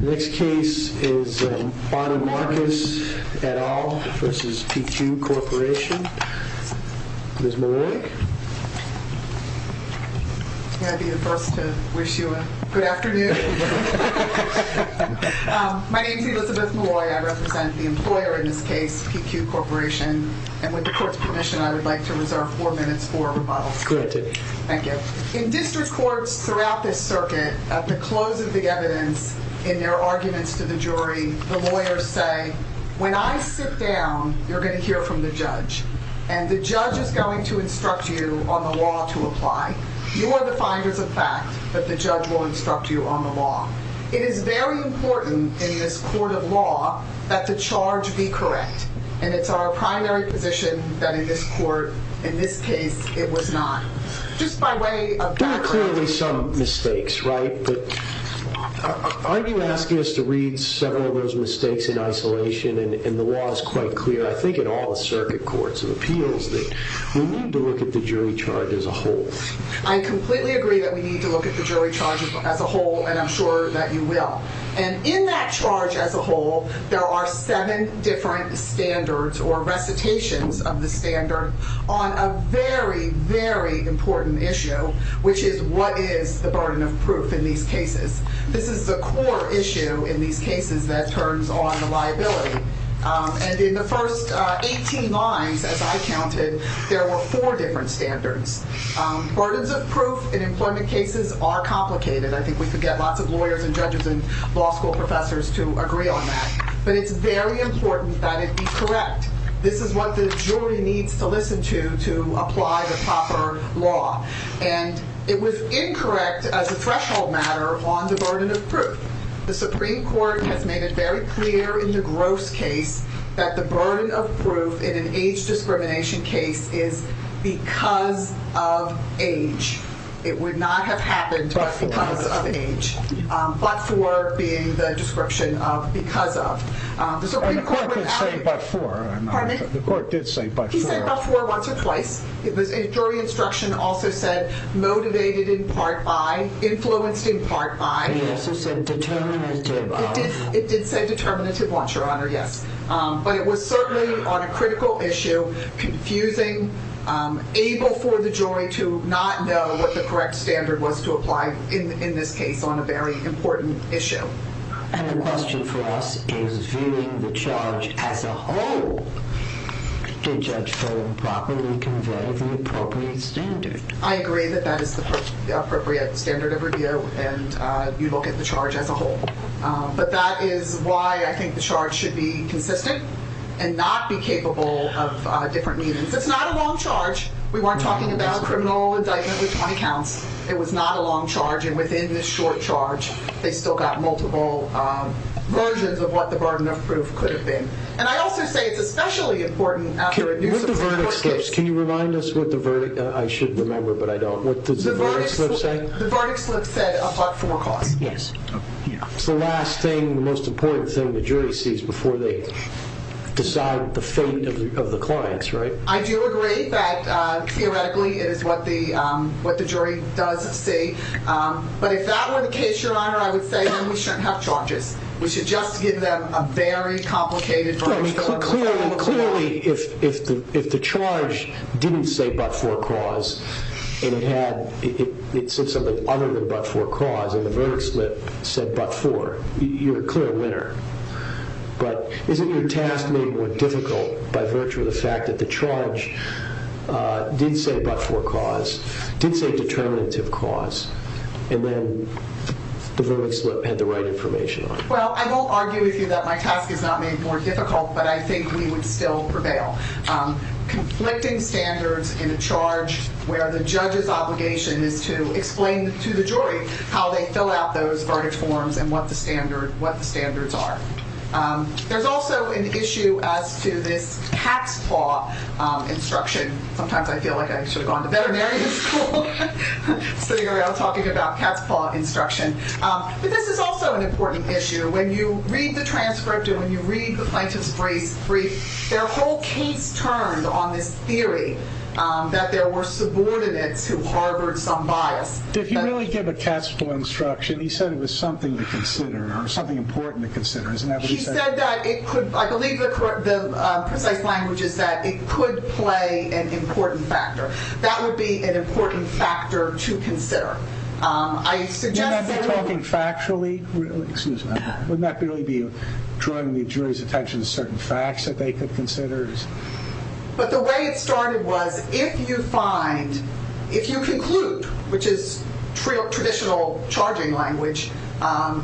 Next case is Bonnie Marcus et al. versus PQ Corporation. Ms. Maloy? May I be the first to wish you a good afternoon? My name is Elizabeth Maloy. I represent the employer in this case, PQ Corporation. And with the court's permission, I would like to reserve four minutes for rebuttal. Corrected. Thank you. In district courts throughout this circuit, at the close of the evidence, in their arguments to the jury, the lawyers say, when I sit down, you're going to hear from the judge. And the judge is going to instruct you on the law to apply. You are the finders of fact, but the judge will instruct you on the law. It is very important in this court of law that the charge be correct. And it's our primary position that in this court, in this case, it was not. There are clearly some mistakes, right? But aren't you asking us to read several of those mistakes in isolation? And the law is quite clear, I think, in all the circuit courts of appeals, that we need to look at the jury charge as a whole. I completely agree that we need to look at the jury charge as a whole, and I'm sure that you will. And in that charge as a whole, there are seven different standards or recitations of the standard on a very, very important issue, which is what is the burden of proof in these cases? This is the core issue in these cases that turns on the liability. And in the first 18 lines, as I counted, there were four different standards. Burdens of proof in employment cases are complicated. I think we could get lots of lawyers and judges and law school professors to agree on that. But it's very important that it be correct. This is what the jury needs to listen to to apply the proper law. And it was incorrect as a threshold matter on the burden of proof. The Supreme Court has made it very clear in the Gross case that the burden of proof in an age discrimination case is because of age. It would not have happened but because of age. But for being the description of because of. And the court didn't say but for. Pardon me? The court did say but for. He said but for once or twice. The jury instruction also said motivated in part by, influenced in part by. It also said determinative. It did say determinative once, Your Honor, yes. But it was certainly on a critical issue. Confusing. Able for the jury to not know what the correct standard was to apply in this case on a very important issue. And the question for us is viewing the charge as a whole. Did Judge Foe properly convey the appropriate standard? I agree that that is the appropriate standard of review. And you look at the charge as a whole. But that is why I think the charge should be consistent and not be capable of different meanings. It's not a long charge. We weren't talking about criminal indictment with 20 counts. It was not a long charge. And within this short charge, they still got multiple versions of what the burden of proof could have been. And I also say it's especially important after a new Supreme Court case. Can you remind us what the verdict, I should remember but I don't, what does the verdict slip say? The verdict slip said a part for cause. Yes. It's the last thing, the most important thing the jury sees before they decide the fate of the clients, right? I do agree that theoretically it is what the jury does see. But if that were the case, Your Honor, I would say that we shouldn't have charges. We should just give them a very complicated verdict. Clearly, if the charge didn't say but for cause, and it said something other than but for cause, and the verdict slip said but for, you're a clear winner. But isn't your task made more difficult by virtue of the fact that the charge did say but for cause, did say determinative cause, and then the verdict slip had the right information on it? Well, I won't argue with you that my task is not made more difficult, but I think we would still prevail. Conflicting standards in a charge where the judge's obligation is to explain to the jury how they fill out those verdict forms and what the standards are. There's also an issue as to this cat's paw instruction. Sometimes I feel like I should have gone to veterinarian school, sitting around talking about cat's paw instruction. But this is also an important issue. When you read the transcript and when you read the plaintiff's brief, their whole case turned on this theory that there were subordinates who harbored some bias. Did he really give a cat's paw instruction? He said it was something to consider or something important to consider, isn't that what he said? He said that it could, I believe the precise language is that it could play an important factor. That would be an important factor to consider. You're not talking factually? Excuse me. Wouldn't that really be drawing the jury's attention to certain facts that they could consider? But the way it started was if you find, if you conclude, which is traditional charging language,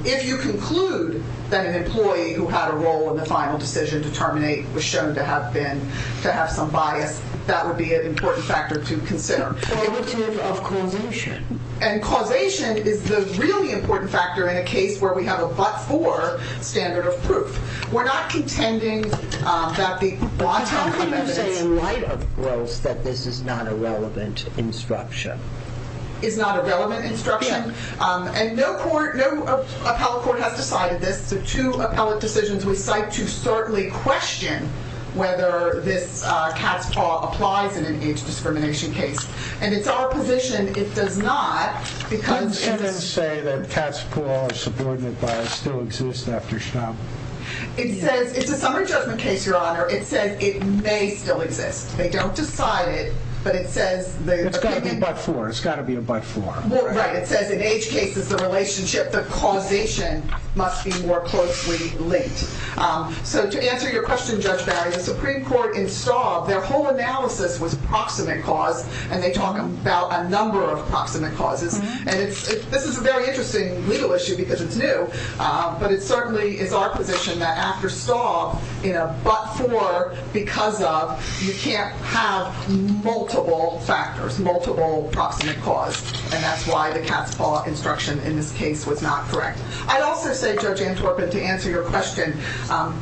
if you conclude that an employee who had a role in the final decision to terminate was shown to have some bias, that would be an important factor to consider. What about causation? And causation is the really important factor in a case where we have a but-for standard of proof. We're not contending that the bottom commitment... But how can you say in light of gross that this is not a relevant instruction? Is not a relevant instruction? And no court, no appellate court has decided this. The two appellate decisions we cite to certainly question whether this cat's paw applies in an age discrimination case. And it's our position it does not because... How can you say that cat's paw or subordinate bias still exists after Schnauble? It's a summary judgment case, Your Honor. It says it may still exist. They don't decide it, but it says... It's got to be a but-for. It's got to be a but-for. Right. It says in age cases, the relationship, the causation must be more closely linked. So to answer your question, Judge Barry, the Supreme Court in Staub, their whole analysis was proximate cause, and they talk about a number of proximate causes. And this is a very interesting legal issue because it's new. But it certainly is our position that after Staub, in a but-for, because of, you can't have multiple factors, multiple proximate cause. And that's why the cat's paw instruction in this case was not correct. I'd also say, Judge Antwerpen, to answer your question,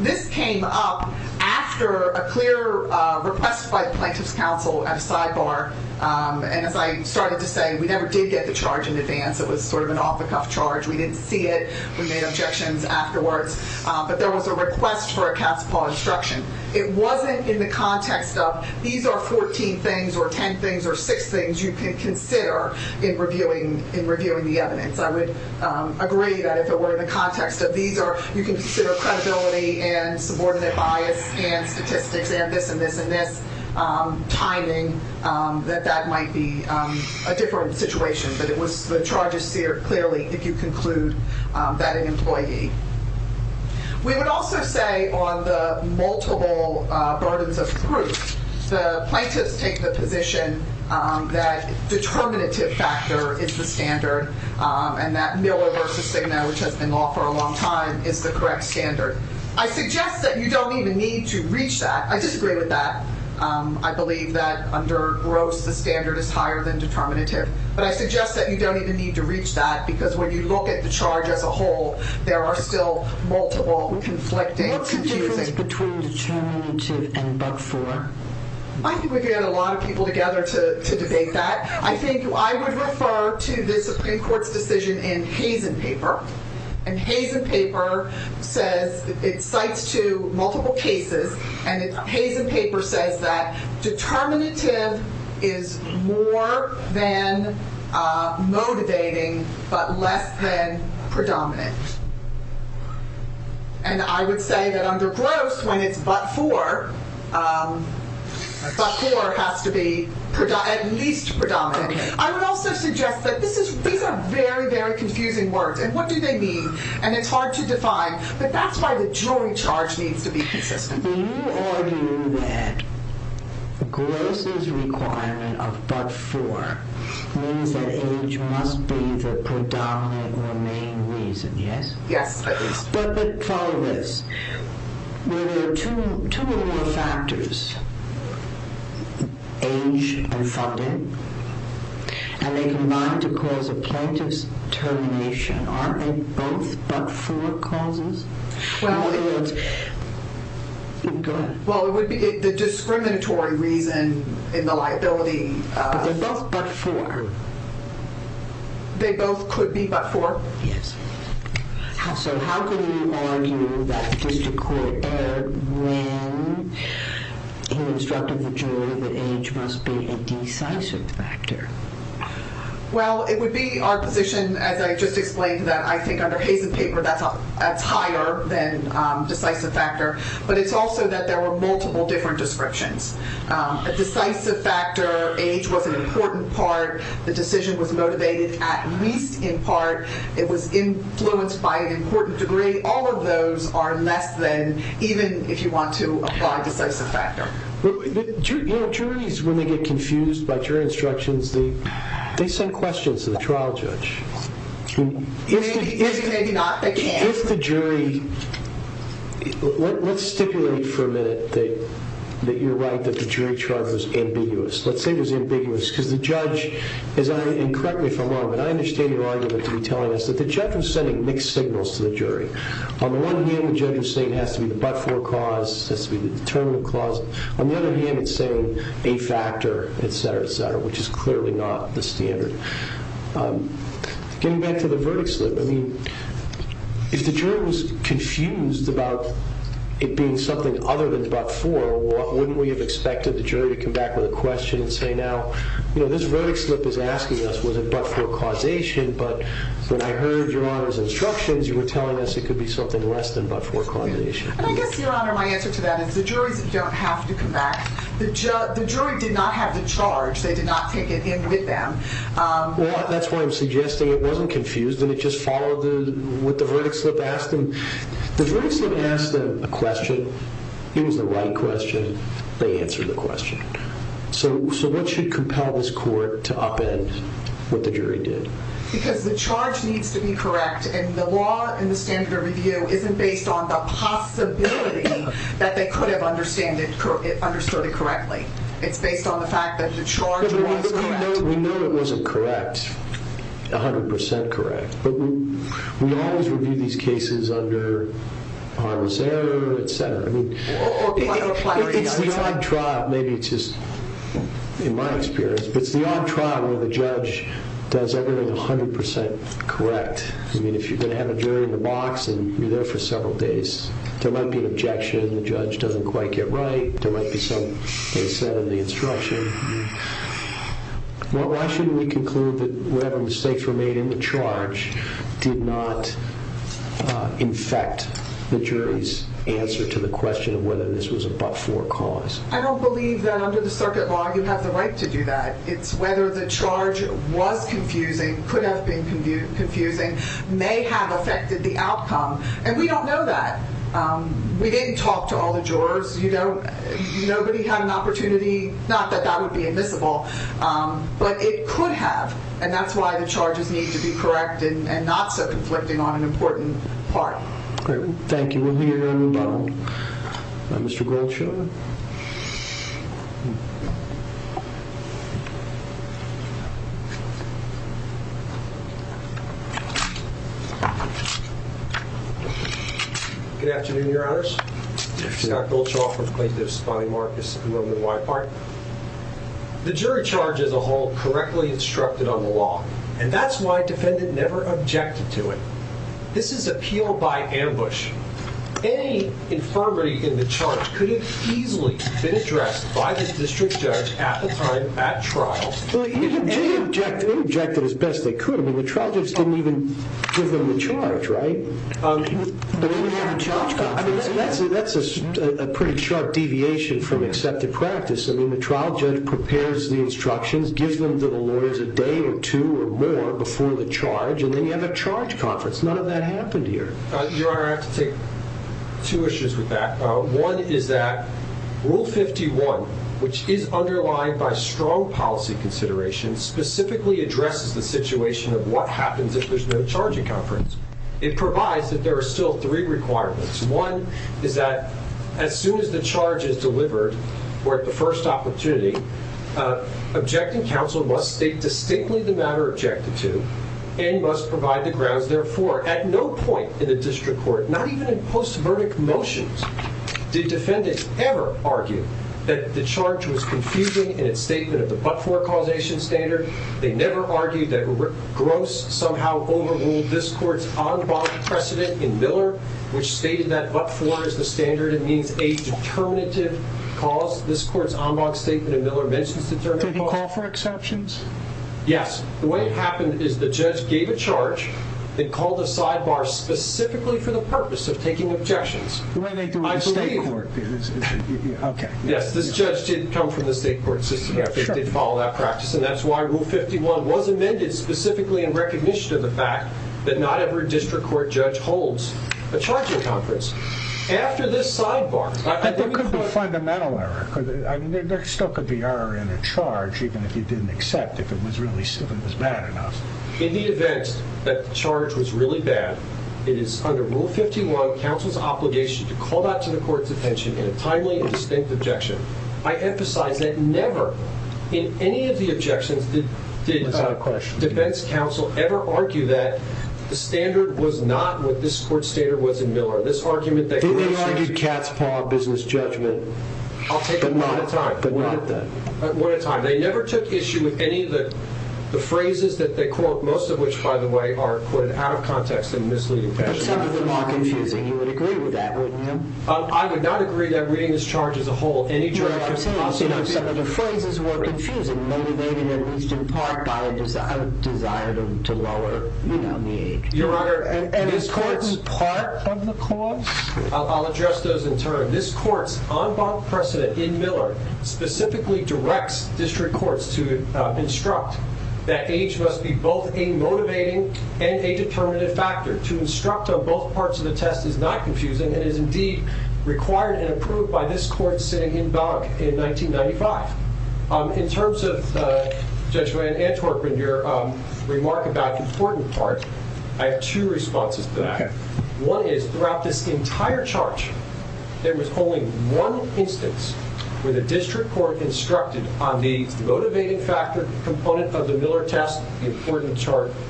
this came up after a clear request by the Plaintiff's Counsel at a sidebar. And as I started to say, we never did get the charge in advance. It was sort of an off-the-cuff charge. We didn't see it. We made objections afterwards. But there was a request for a cat's paw instruction. It wasn't in the context of these are 14 things or 10 things or 6 things you can consider in reviewing the evidence. I would agree that if it were in the context of these are, you can consider credibility and subordinate bias and statistics and this and this and this, timing, that that might be a different situation. But the charge is seared clearly if you conclude that an employee. We would also say on the multiple burdens of proof, the plaintiffs take the position that determinative factor is the standard and that Miller v. Cigna, which has been law for a long time, is the correct standard. I suggest that you don't even need to reach that. I disagree with that. I believe that under Gross, the standard is higher than determinative. But I suggest that you don't even need to reach that because when you look at the charge as a whole, there are still multiple conflicting. What's the difference between determinative and bug four? I think we've got a lot of people together to debate that. I think I would refer to the Supreme Court's decision in Hazen paper. And Hazen paper says, it cites to multiple cases, and Hazen paper says that determinative is more than motivating but less than predominant. And I would say that under Gross, when it's but four, but four has to be at least predominant. I would also suggest that these are very, very confusing words. And what do they mean? And it's hard to define. But that's why the jury charge needs to be consistent. You argue that Gross's requirement of but four means that age must be the predominant or main reason, yes? Yes, at least. But follow this. When there are two or more factors, age and funding, and they combine to cause a plaintiff's termination, aren't they both but four causes? Go ahead. Well, it would be the discriminatory reason in the liability. But they're both but four. They both could be but four? Yes. So how can you argue that the district court erred when it instructed the jury that age must be a decisive factor? Well, it would be our position, as I just explained, that I think under Hazen paper that's higher than decisive factor. But it's also that there were multiple different descriptions. A decisive factor, age was an important part. The decision was motivated at least in part. It was influenced by an important degree. All of those are less than, even if you want to apply decisive factor. Juries, when they get confused by jury instructions, they send questions to the trial judge. Let's stipulate for a minute that you're right, that the jury charge was ambiguous. Let's say it was ambiguous because the judge, and correct me if I'm wrong, but I understand your argument to be telling us that the judge was sending mixed signals to the jury. On the one hand, the judge is saying it has to be the but four cause. It has to be the determinative cause. On the other hand, it's saying a factor, etc., etc., which is clearly not the standard. Getting back to the verdict slip, I mean, if the jury was confused about it being something other than but four, wouldn't we have expected the jury to come back with a question and say, now, you know, this verdict slip is asking us was it but four causation, but when I heard your Honor's instructions, you were telling us it could be something less than but four causation. And I guess, your Honor, my answer to that is the juries don't have to come back. The jury did not have the charge. They did not take it in with them. Well, that's why I'm suggesting it wasn't confused, and it just followed what the verdict slip asked them. The verdict slip asked them a question. It was the right question. They answered the question. So what should compel this court to upend what the jury did? Because the charge needs to be correct, and the law and the standard of review isn't based on the possibility that they could have understood it correctly. It's based on the fact that the charge was correct. We know it wasn't correct, 100% correct, but we always review these cases under harmless error, etc. It's the odd trial, maybe it's just in my experience, but it's the odd trial where the judge does everything 100% correct. I mean, if you're going to have a jury in a box and you're there for several days, there might be an objection, the judge doesn't quite get right, there might be something they said in the instruction. Why shouldn't we conclude that whatever mistakes were made in the charge did not infect the jury's answer to the question of whether this was a but-for cause? I don't believe that under the circuit law you have the right to do that. It's whether the charge was confusing, could have been confusing, may have affected the outcome. And we don't know that. We didn't talk to all the jurors. Nobody had an opportunity, not that that would be admissible, but it could have, and that's why the charges need to be correct and not so conflicting on an important part. Great, thank you. We'll hear from Mr. Goldshaw. Good afternoon, Your Honors. Scott Goldshaw from Plaintiff's Bonnie Marcus and Women in White Party. The jury charge as a whole correctly instructed on the law, and that's why a defendant never objected to it. This is appeal by ambush. Any infirmity in the charge could have easily been addressed by the district judge at the time at trial. They objected as best they could. I mean, the trial judge didn't even give them the charge, right? They didn't have a charge. I mean, that's a pretty sharp deviation from accepted practice. I mean, the trial judge prepares the instructions, gives them to the lawyers a day or two or more before the charge, and they have a charge conference. None of that happened here. Your Honor, I have to take two issues with that. One is that Rule 51, which is underlined by strong policy consideration, specifically addresses the situation of what happens if there's no charging conference. It provides that there are still three requirements. One is that as soon as the charge is delivered or at the first opportunity, objecting counsel must state distinctly the matter objected to and must provide the grounds therefore. At no point in the district court, not even in post-verdict motions, did defendants ever argue that the charge was confusing in its statement of the but-for causation standard. They never argued that Gross somehow overruled this court's en bas precedent in Miller, which stated that but-for is the standard. It means a determinative cause. This court's en bas statement in Miller mentions determinative cause. Did it call for exceptions? Yes. The way it happened is the judge gave a charge and called a sidebar specifically for the purpose of taking objections. The way they do it in the state court. Yes, this judge did come from the state court system. They did follow that practice, and that's why Rule 51 was amended specifically in recognition of the fact that not every district court judge holds a charging conference. There could be fundamental error. There still could be error in a charge, even if you didn't accept if it was bad enough. In the event that the charge was really bad, it is under Rule 51 counsel's obligation to call that to the court's attention in a timely and distinct objection. I emphasize that never in any of the objections did defense counsel ever argue that the standard was not what this court's standard was in Miller. Do they argue cat's paw business judgment? I'll take it one at a time. One at a time. They never took issue with any of the phrases that they quote, most of which, by the way, are out of context and misleading. But some of them are confusing. You would agree with that, wouldn't you? I would not agree that reading this charge as a whole, any jury I've seen, some of the phrases were confusing, motivated at least in part by a desire to lower the age. An important part of the cause? I'll address those in turn. This court's en banc precedent in Miller specifically directs district courts to instruct that age must be both a motivating and a determinative factor. To instruct on both parts of the test is not confusing and is indeed required and approved by this court sitting en banc in 1995. In terms of Judge Wayne Antwerp and your remark about the important part, I have two responses to that. One is, throughout this entire charge, there was only one instance where the district court instructed on the motivating factor component of the Miller test, the important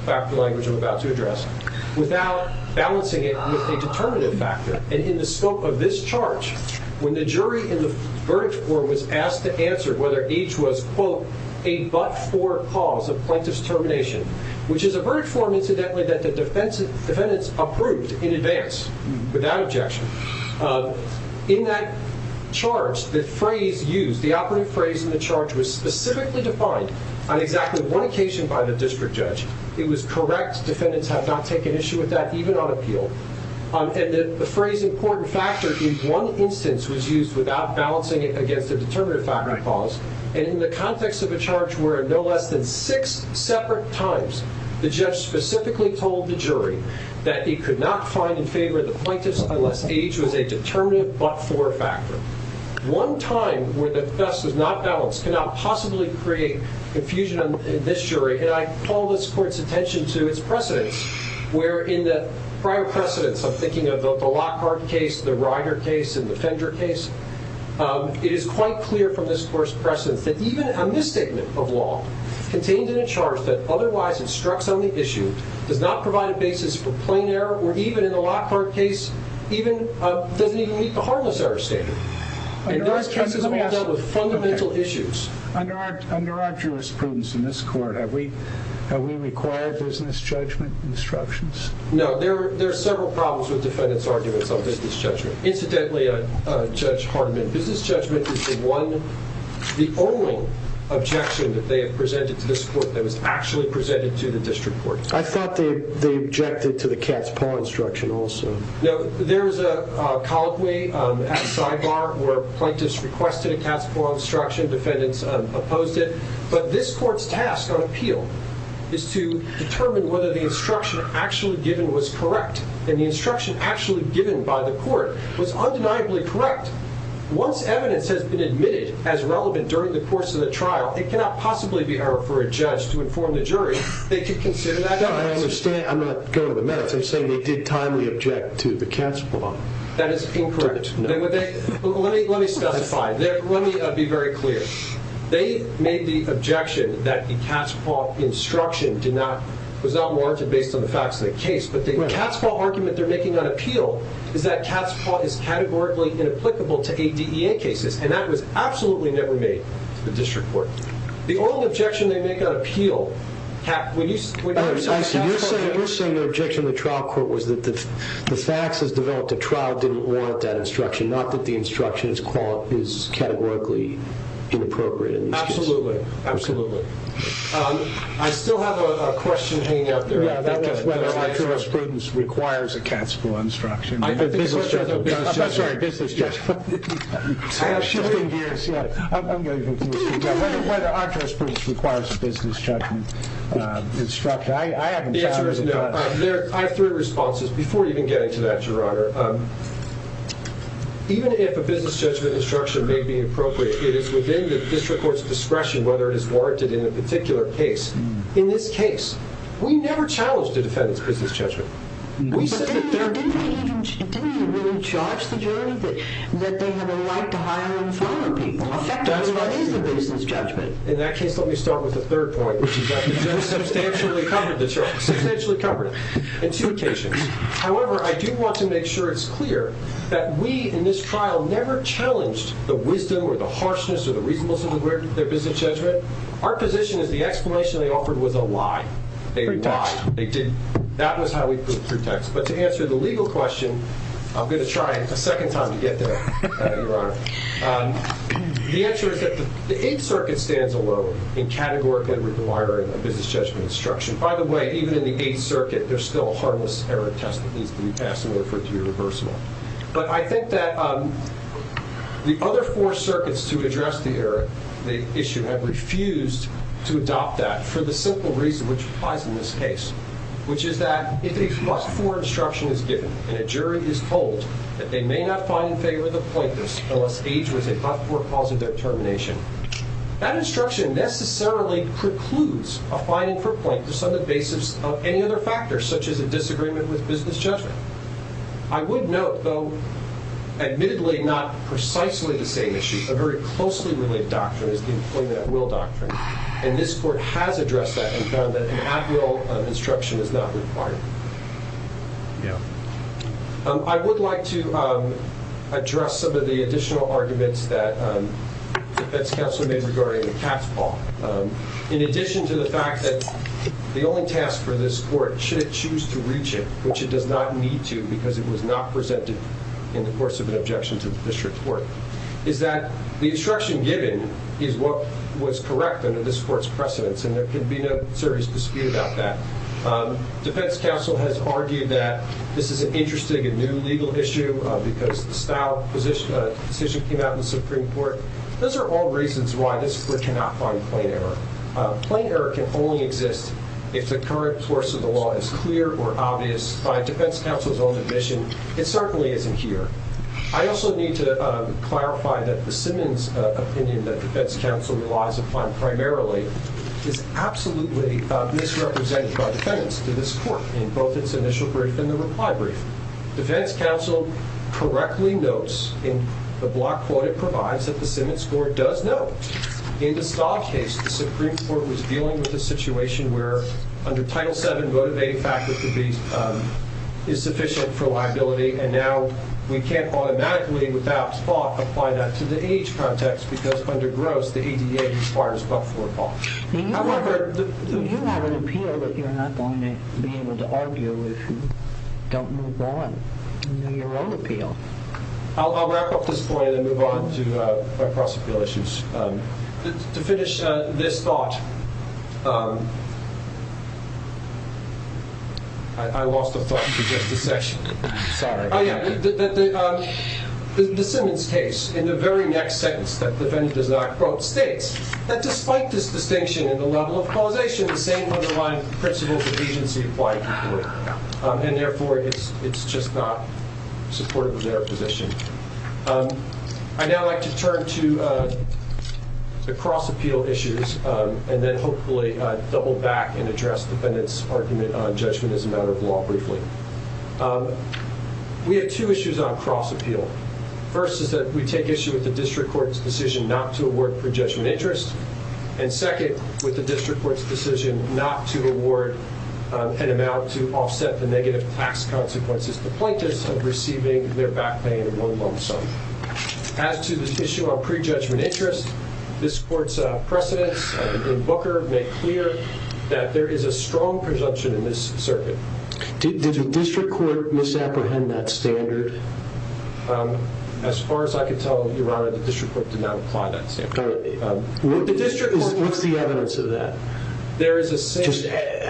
factor language I'm about to address, without balancing it with a determinative factor. And in the scope of this charge, when the jury in the verdict form was asked to answer whether age was, quote, a but-for cause of plaintiff's termination, which is a verdict form, incidentally, that the defendants approved in advance, without objection, in that charge, the phrase used, the operative phrase in the charge, was specifically defined on exactly one occasion by the district judge. It was correct. Defendants have not taken issue with that, even on appeal. And the phrase, important factor, in one instance was used without balancing it against a determinative factor clause. And in the context of a charge where in no less than six separate times the judge specifically told the jury that he could not find in favor of the plaintiff unless age was a determinative but-for factor. One time where the test was not balanced could not possibly create confusion in this jury, and I call this court's attention to its precedents, where in the prior precedents, I'm thinking of the Lockhart case, it is quite clear from this court's precedents that even a misstatement of law contained in a charge that otherwise instructs on the issue does not provide a basis for plain error, or even in the Lockhart case, doesn't even meet the harmless error standard. And those cases have all dealt with fundamental issues. Under our jurisprudence in this court, have we required business judgment instructions? No, there are several problems with defendants' arguments on business judgment. Incidentally, Judge Hardeman, business judgment is the only objection that they have presented to this court that was actually presented to the district court. I thought they objected to the cat's paw instruction also. No, there is a colloquy at the sidebar where plaintiffs requested a cat's paw instruction, defendants opposed it, but this court's task on appeal is to determine whether the instruction actually given was correct, and the instruction actually given by the court was undeniably correct. Once evidence has been admitted as relevant during the course of the trial, it cannot possibly be for a judge to inform the jury they should consider that. I understand. I'm not going to the merits. I'm saying they did timely object to the cat's paw. That is incorrect. Let me specify. Let me be very clear. They made the objection that the cat's paw instruction was not warranted based on the facts of the case, but the cat's paw argument they're making on appeal is that cat's paw is categorically inapplicable to ADEA cases, and that was absolutely never made to the district court. The only objection they make on appeal... You're saying the objection of the trial court was that the facts as developed at trial didn't warrant that instruction, not that the instruction is categorically inappropriate. Absolutely. Absolutely. I still have a question hanging out there. Whether arduous prudence requires a cat's paw instruction. I'm sorry, business judgment. Whether arduous prudence requires a business judgment instruction. The answer is no. I have three responses before even getting to that, Your Honor. Even if a business judgment instruction may be appropriate, it is within the district court's discretion whether it is warranted in a particular case. In this case, we never challenged the defendant's business judgment. But didn't they really charge the jury that they have a right to hire and fire people? Effectively, that is the business judgment. In that case, let me start with the third point, which is that they substantially covered the charge. Substantially covered it on two occasions. However, I do want to make sure it's clear that we in this trial never challenged the wisdom or the harshness or the reasonableness of their business judgment. Our position is the explanation they offered was a lie. They lied. That was how we proved pretext. But to answer the legal question, I'm going to try a second time to get there, Your Honor. The answer is that the Eighth Circuit stands alone in categorically requiring a business judgment instruction. By the way, even in the Eighth Circuit, there's still a harmless error test that needs to be passed in order for it to be reversible. But I think that the other four circuits to address the error issue have refused to adopt that for the simple reason which applies in this case, which is that if a but-for instruction is given and a jury is told that they may not find in favor of the plaintiffs unless age was a but-for cause of their termination, that instruction necessarily precludes a finding for plaintiffs on the basis of any other factors, such as a disagreement with business judgment. I would note, though, admittedly not precisely the same issue, that a very closely related doctrine is the employment-at-will doctrine. And this court has addressed that and found that an at-will instruction is not required. I would like to address some of the additional arguments that the defense counsel made regarding the tax law. In addition to the fact that the only task for this court, should it choose to reach it, which it does not need to because it was not presented in the course of an objection to the district court, is that the instruction given is what was correct under this court's precedents, and there can be no serious dispute about that. Defense counsel has argued that this is an interesting and new legal issue because the style of decision came out in the Supreme Court. Those are all reasons why this court cannot find plain error. Plain error can only exist if the current course of the law is clear or obvious. By defense counsel's own admission, it certainly isn't here. I also need to clarify that the Simmons opinion that defense counsel relies upon primarily is absolutely misrepresented by defendants to this court in both its initial brief and the reply brief. Defense counsel correctly notes in the block quote it provides that the Simmons court does know. In the Stahl case, the Supreme Court was dealing with a situation where, under Title VII, motivating factors is sufficient for liability, and now we can't automatically, without thought, apply that to the age context because, under Gross, the ADA requires but-for law. You have an appeal that you're not going to be able to argue if you don't move on in your own appeal. I'll wrap up this point and then move on to my cross-appeal issues. To finish this thought, I lost a thought for just a session. The Simmons case, in the very next sentence that the defendant does not quote, states that despite this distinction in the level of causation, the same underlying precedents of agency apply to court. And therefore, it's just not supportive of their position. I'd now like to turn to the cross-appeal issues and then hopefully double back and address the defendant's argument on judgment as a matter of law briefly. We have two issues on cross-appeal. First is that we take issue with the district court's decision not to award pre-judgment interest, and second, with the district court's decision not to award an amount to offset the negative tax consequences to plaintiffs of receiving their back pay in one month's time. As to this issue on pre-judgment interest, this court's precedents in Booker make clear that there is a strong presumption in this circuit. Did the district court misapprehend that standard? As far as I could tell, Your Honor, the district court did not apply that standard. What's the evidence of that? There is a standard.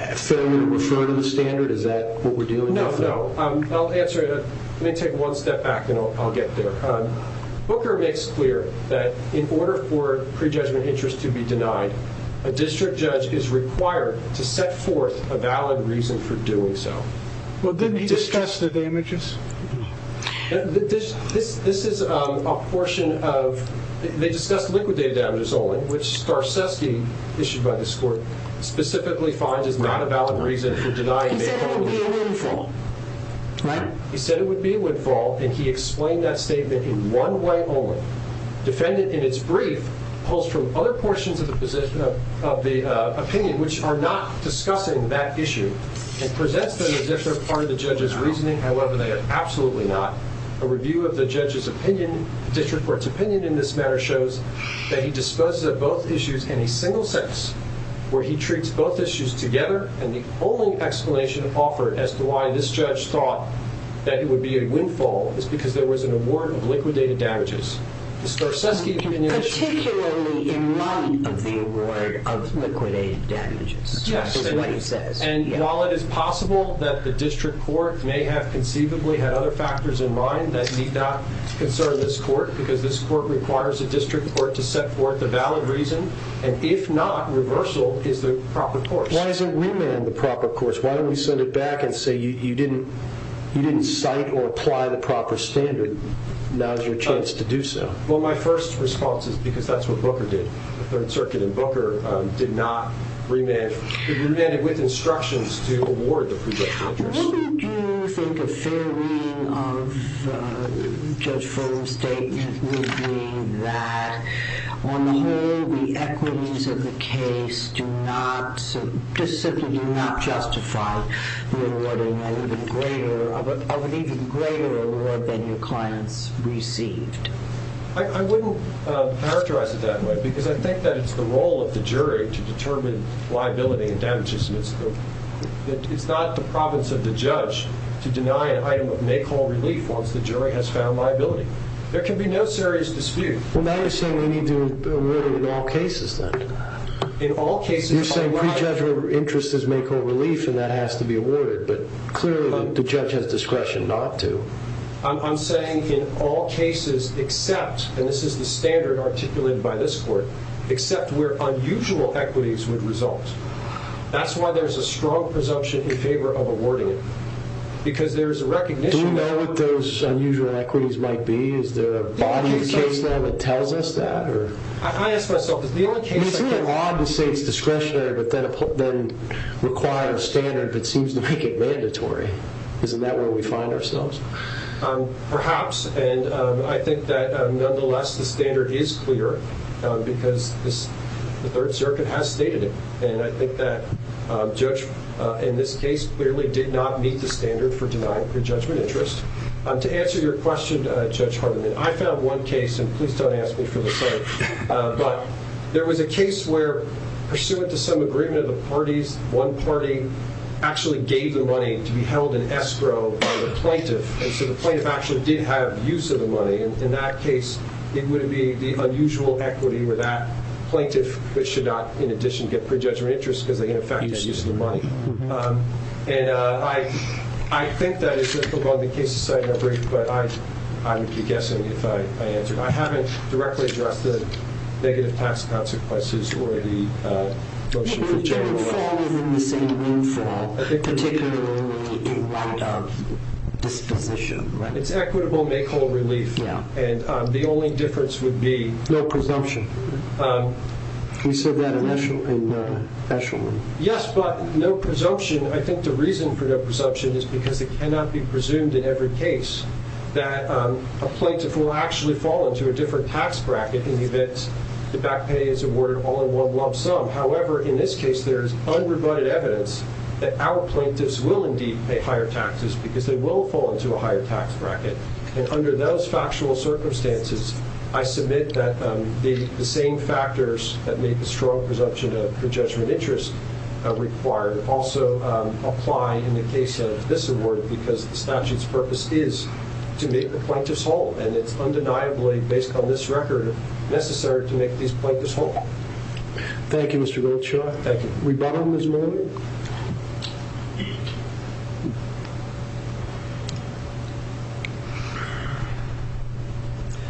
Just fail me to refer to the standard? Is that what we're doing? No, no. I'll answer it. Let me take one step back, and I'll get there. Booker makes clear that in order for pre-judgment interest to be denied, a district judge is required to set forth a valid reason for doing so. Well, didn't he discuss the damages? This is a portion of, they discussed liquidated damages only, which Starczewski, issued by this court, specifically finds is not a valid reason for denying that only. He said it would be a windfall, right? He said it would be a windfall, and he explained that statement in one way only. Defendant, in its brief, pulls from other portions of the opinion, which are not discussing that issue, and presents them as if they're part of the judge's reasoning. However, they are absolutely not. A review of the judge's opinion, district court's opinion in this matter, shows that he disposes of both issues in a single sentence, where he treats both issues together. And the only explanation offered as to why this judge thought that it would be a windfall is because there was an award of liquidated damages. The Starczewski opinion is true. Particularly in light of the award of liquidated damages, is what he says. And while it is possible that the district court may have conceivably had other factors in mind that need not concern this court, because this court requires a district court to set forth a valid reason, and if not, reversal is the proper course. Why isn't remand the proper course? Why don't we send it back and say you didn't cite or apply the proper standard. Now's your chance to do so. Well, my first response is because that's what Booker did, the Third Circuit. And Booker did not remand. He remanded with instructions to award the projected interest. What do you think a fair reading of Judge Furman's statement would be that, on the whole, the equities of the case do not, just simply do not justify the awarding of an even greater award than your client's received? I wouldn't characterize it that way, because I think that it's the role of the jury to determine liability and damages. It's not the province of the judge to deny an item of make-all relief once the jury has found liability. There can be no serious dispute. Well, now you're saying we need to award it in all cases, then. In all cases. You're saying prejudged interest is make-all relief, and that has to be awarded. But clearly, the judge has discretion not to. I'm saying, in all cases, except, and this is the standard articulated by this court, except where unusual equities would result. That's why there's a strong presumption in favor of awarding it. Because there's a recognition that. Do we know what those unusual equities might be? Is there a body of case law that tells us that? I ask myself, is the only case like that. It's really odd to say it's discretionary, but then require a standard that seems to make it mandatory. Isn't that where we find ourselves? Perhaps. And I think that, nonetheless, the standard is clear. Because the Third Circuit has stated it. And I think that Judge, in this case, clearly did not meet the standard for denying prejudgment interest. To answer your question, Judge Hardiman, I found one case, and please don't ask me for the same. But there was a case where, pursuant to some agreement of the parties, one party actually gave the money to be held in escrow by the plaintiff. And so the plaintiff actually did have use of the money. And in that case, it would be the unusual equity where that plaintiff should not, in addition, get prejudgment interest, because they, in effect, had use of the money. And I think that is the case, but I would be guessing if I answered. I haven't directly addressed the negative tax consequences or the motion for general election. It would fall within the same room, for a particular amount of disposition. It's equitable make-all relief. And the only difference would be. No presumption. You said that in the actual room. Yes, but no presumption. I think the reason for no presumption is because it cannot be presumed in every case that a plaintiff will actually fall into a different tax bracket in the event the back pay is awarded all in one lump sum. However, in this case, there is unrebutted evidence that our plaintiffs will indeed pay higher taxes, because they will fall into a higher tax bracket. And under those factual circumstances, I submit that the same factors that make the strong presumption of prejudgment interest required also apply in the case of this award, because the statute's purpose is to make the plaintiffs whole. And it's undeniably, based on this record, necessary to make these plaintiffs whole. Thank you, Mr. Wiltshire. Thank you. Rebuttal, Ms. Marley?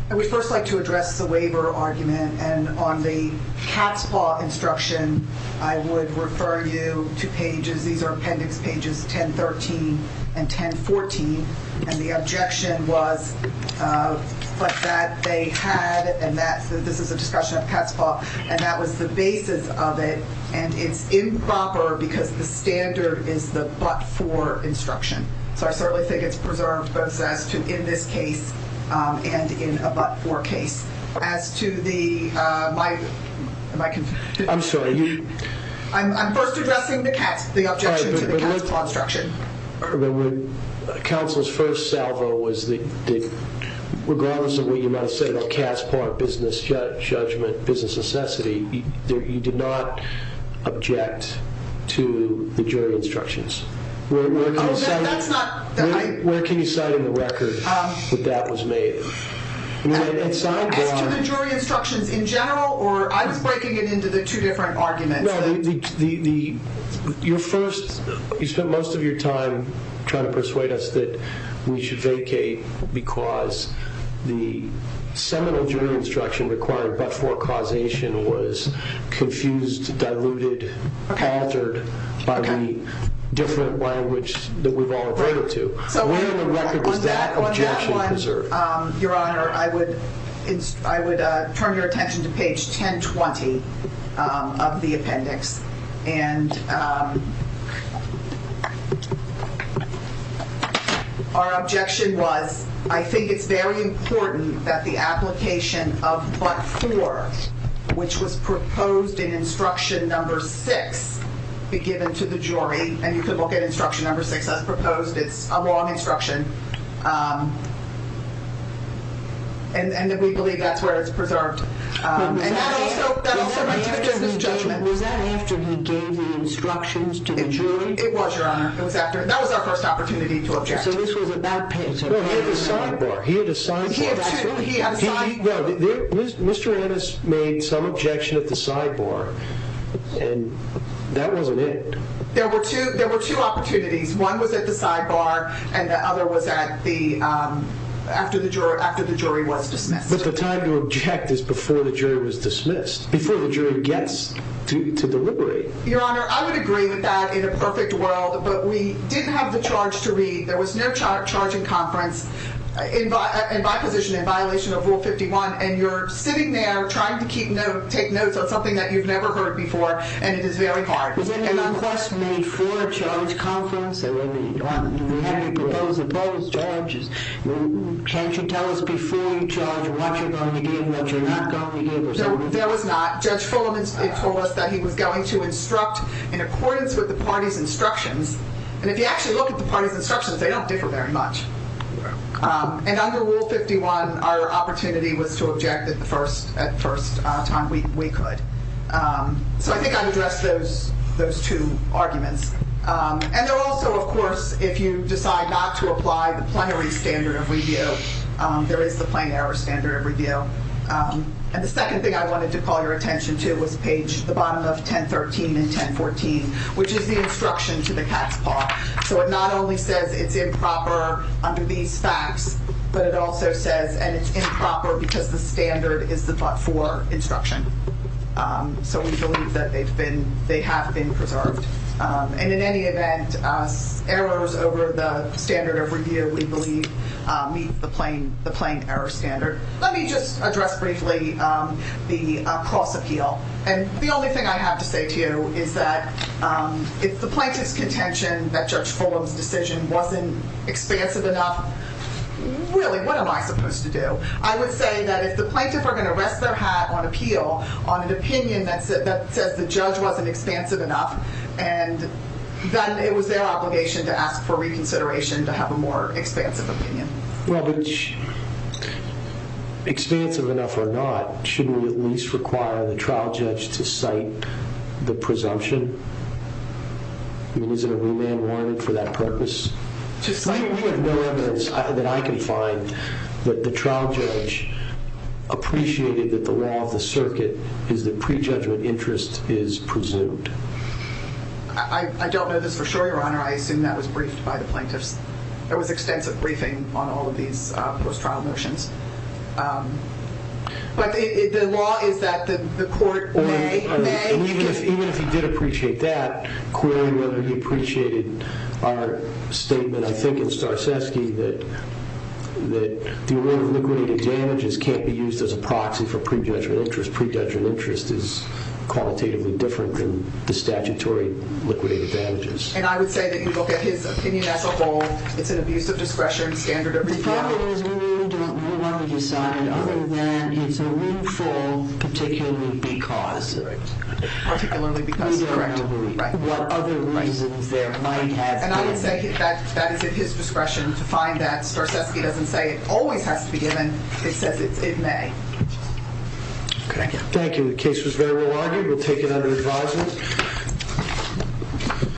I would first like to address the waiver argument. And on the cat's paw instruction, I would refer you to pages. These are appendix pages 1013 and 1014. And the objection was that they had, and this is a discussion of cat's paw, and that was the basis of it. And it's improper, because the standard is the but-for instruction. So I certainly think it's preserved, both in this case and in a but-for case. As to the, am I confusing? I'm sorry. I'm first addressing the cat's, the objection to the cat's paw instruction. Counsel's first salvo was that regardless of what you might have said about cat's paw, business judgment, business necessity, you did not object to the jury instructions. Oh, that's not. Where can you cite in the record that that was made? As to the jury instructions in general, or I was breaking it into the two different arguments. Your first, you spent most of your time trying to persuade us that we should vacate because the seminal jury instruction required but-for causation was confused, diluted, altered by the different language that we've all agreed to. So where in the record is that objection preserved? Your Honor, I would turn your attention to page 1020 of the appendix. And our objection was, I think it's very important that the application of but-for, which was proposed in instruction number six, be given to the jury. And you could look at instruction number six that's proposed. It's a long instruction. And we believe that's where it's preserved. Was that after he gave the instructions to the jury? It was, Your Honor. That was our first opportunity to object. So this was a bad page. He had a sidebar. He had a sidebar. He had a sidebar. Mr. Ennis made some objection at the sidebar. And that wasn't it. There were two opportunities. One was at the sidebar. And the other was after the jury was dismissed. But the time to object is before the jury was dismissed, before the jury gets to deliberate. Your Honor, I would agree with that in a perfect world. But we didn't have the charge to read. There was no charge in conference, in my position, in violation of Rule 51. And you're sitting there trying to take notes on something that you've never heard before. And it is very hard. Was there any request made for a charge conference? Or were there any proposed charges? Can't you tell us before you charge what you're going to give and what you're not going to give? No, there was not. Judge Fulham told us that he was going to instruct in accordance with the party's instructions. And if you actually look at the party's instructions, they don't differ very much. And under Rule 51, our opportunity was to object at first time. We could. So I think I've addressed those two arguments. And also, of course, if you decide not to apply the plenary standard of review, there is the plain error standard of review. And the second thing I wanted to call your attention to was page, the bottom of 1013 and 1014, which is the instruction to the cat's paw. So it not only says it's improper under these facts, but it also says, and it's improper because the standard is for instruction. So we believe that they have been preserved. And in any event, errors over the standard of review, we believe, meet the plain error standard. Let me just address briefly the cross-appeal. And the only thing I have to say to you is that if the plaintiff's contention that Judge Fulham's decision wasn't expansive enough, really, what am I supposed to do? I would say that if the plaintiff were going to rest their hat on appeal on an opinion that says the judge wasn't expansive enough, and then it was their obligation to ask for reconsideration to have a more expansive opinion. Well, expansive enough or not, shouldn't we at least require the trial judge to cite the presumption? I mean, isn't a remand warranted for that purpose? We have more evidence than I can find that the trial judge appreciated that the law of the circuit is that prejudgment interest is presumed. I don't know this for sure, Your Honor. I assume that was briefed by the plaintiffs. There was extensive briefing on all of these post-trial motions. But the law is that the court may, may give it. Even if he did appreciate that, clearly, whether he appreciated our statement, I think, in Starczewski, that the array of liquidated damages can't be used as a proxy for prejudgment interest. Prejudgment interest is qualitatively different than the statutory liquidated damages. And I would say that you look at his opinion as a whole. It's an abuse of discretion, standard of review. The problem is we really don't know what he decided, other than it's a roomful, particularly because. Particularly because, correct. Standard of review. What other reasons there might have been. And I would say that is at his discretion to find that Starczewski doesn't say it always has to be given. It says it may. Thank you. The case was very well argued. We'll take it under advisement.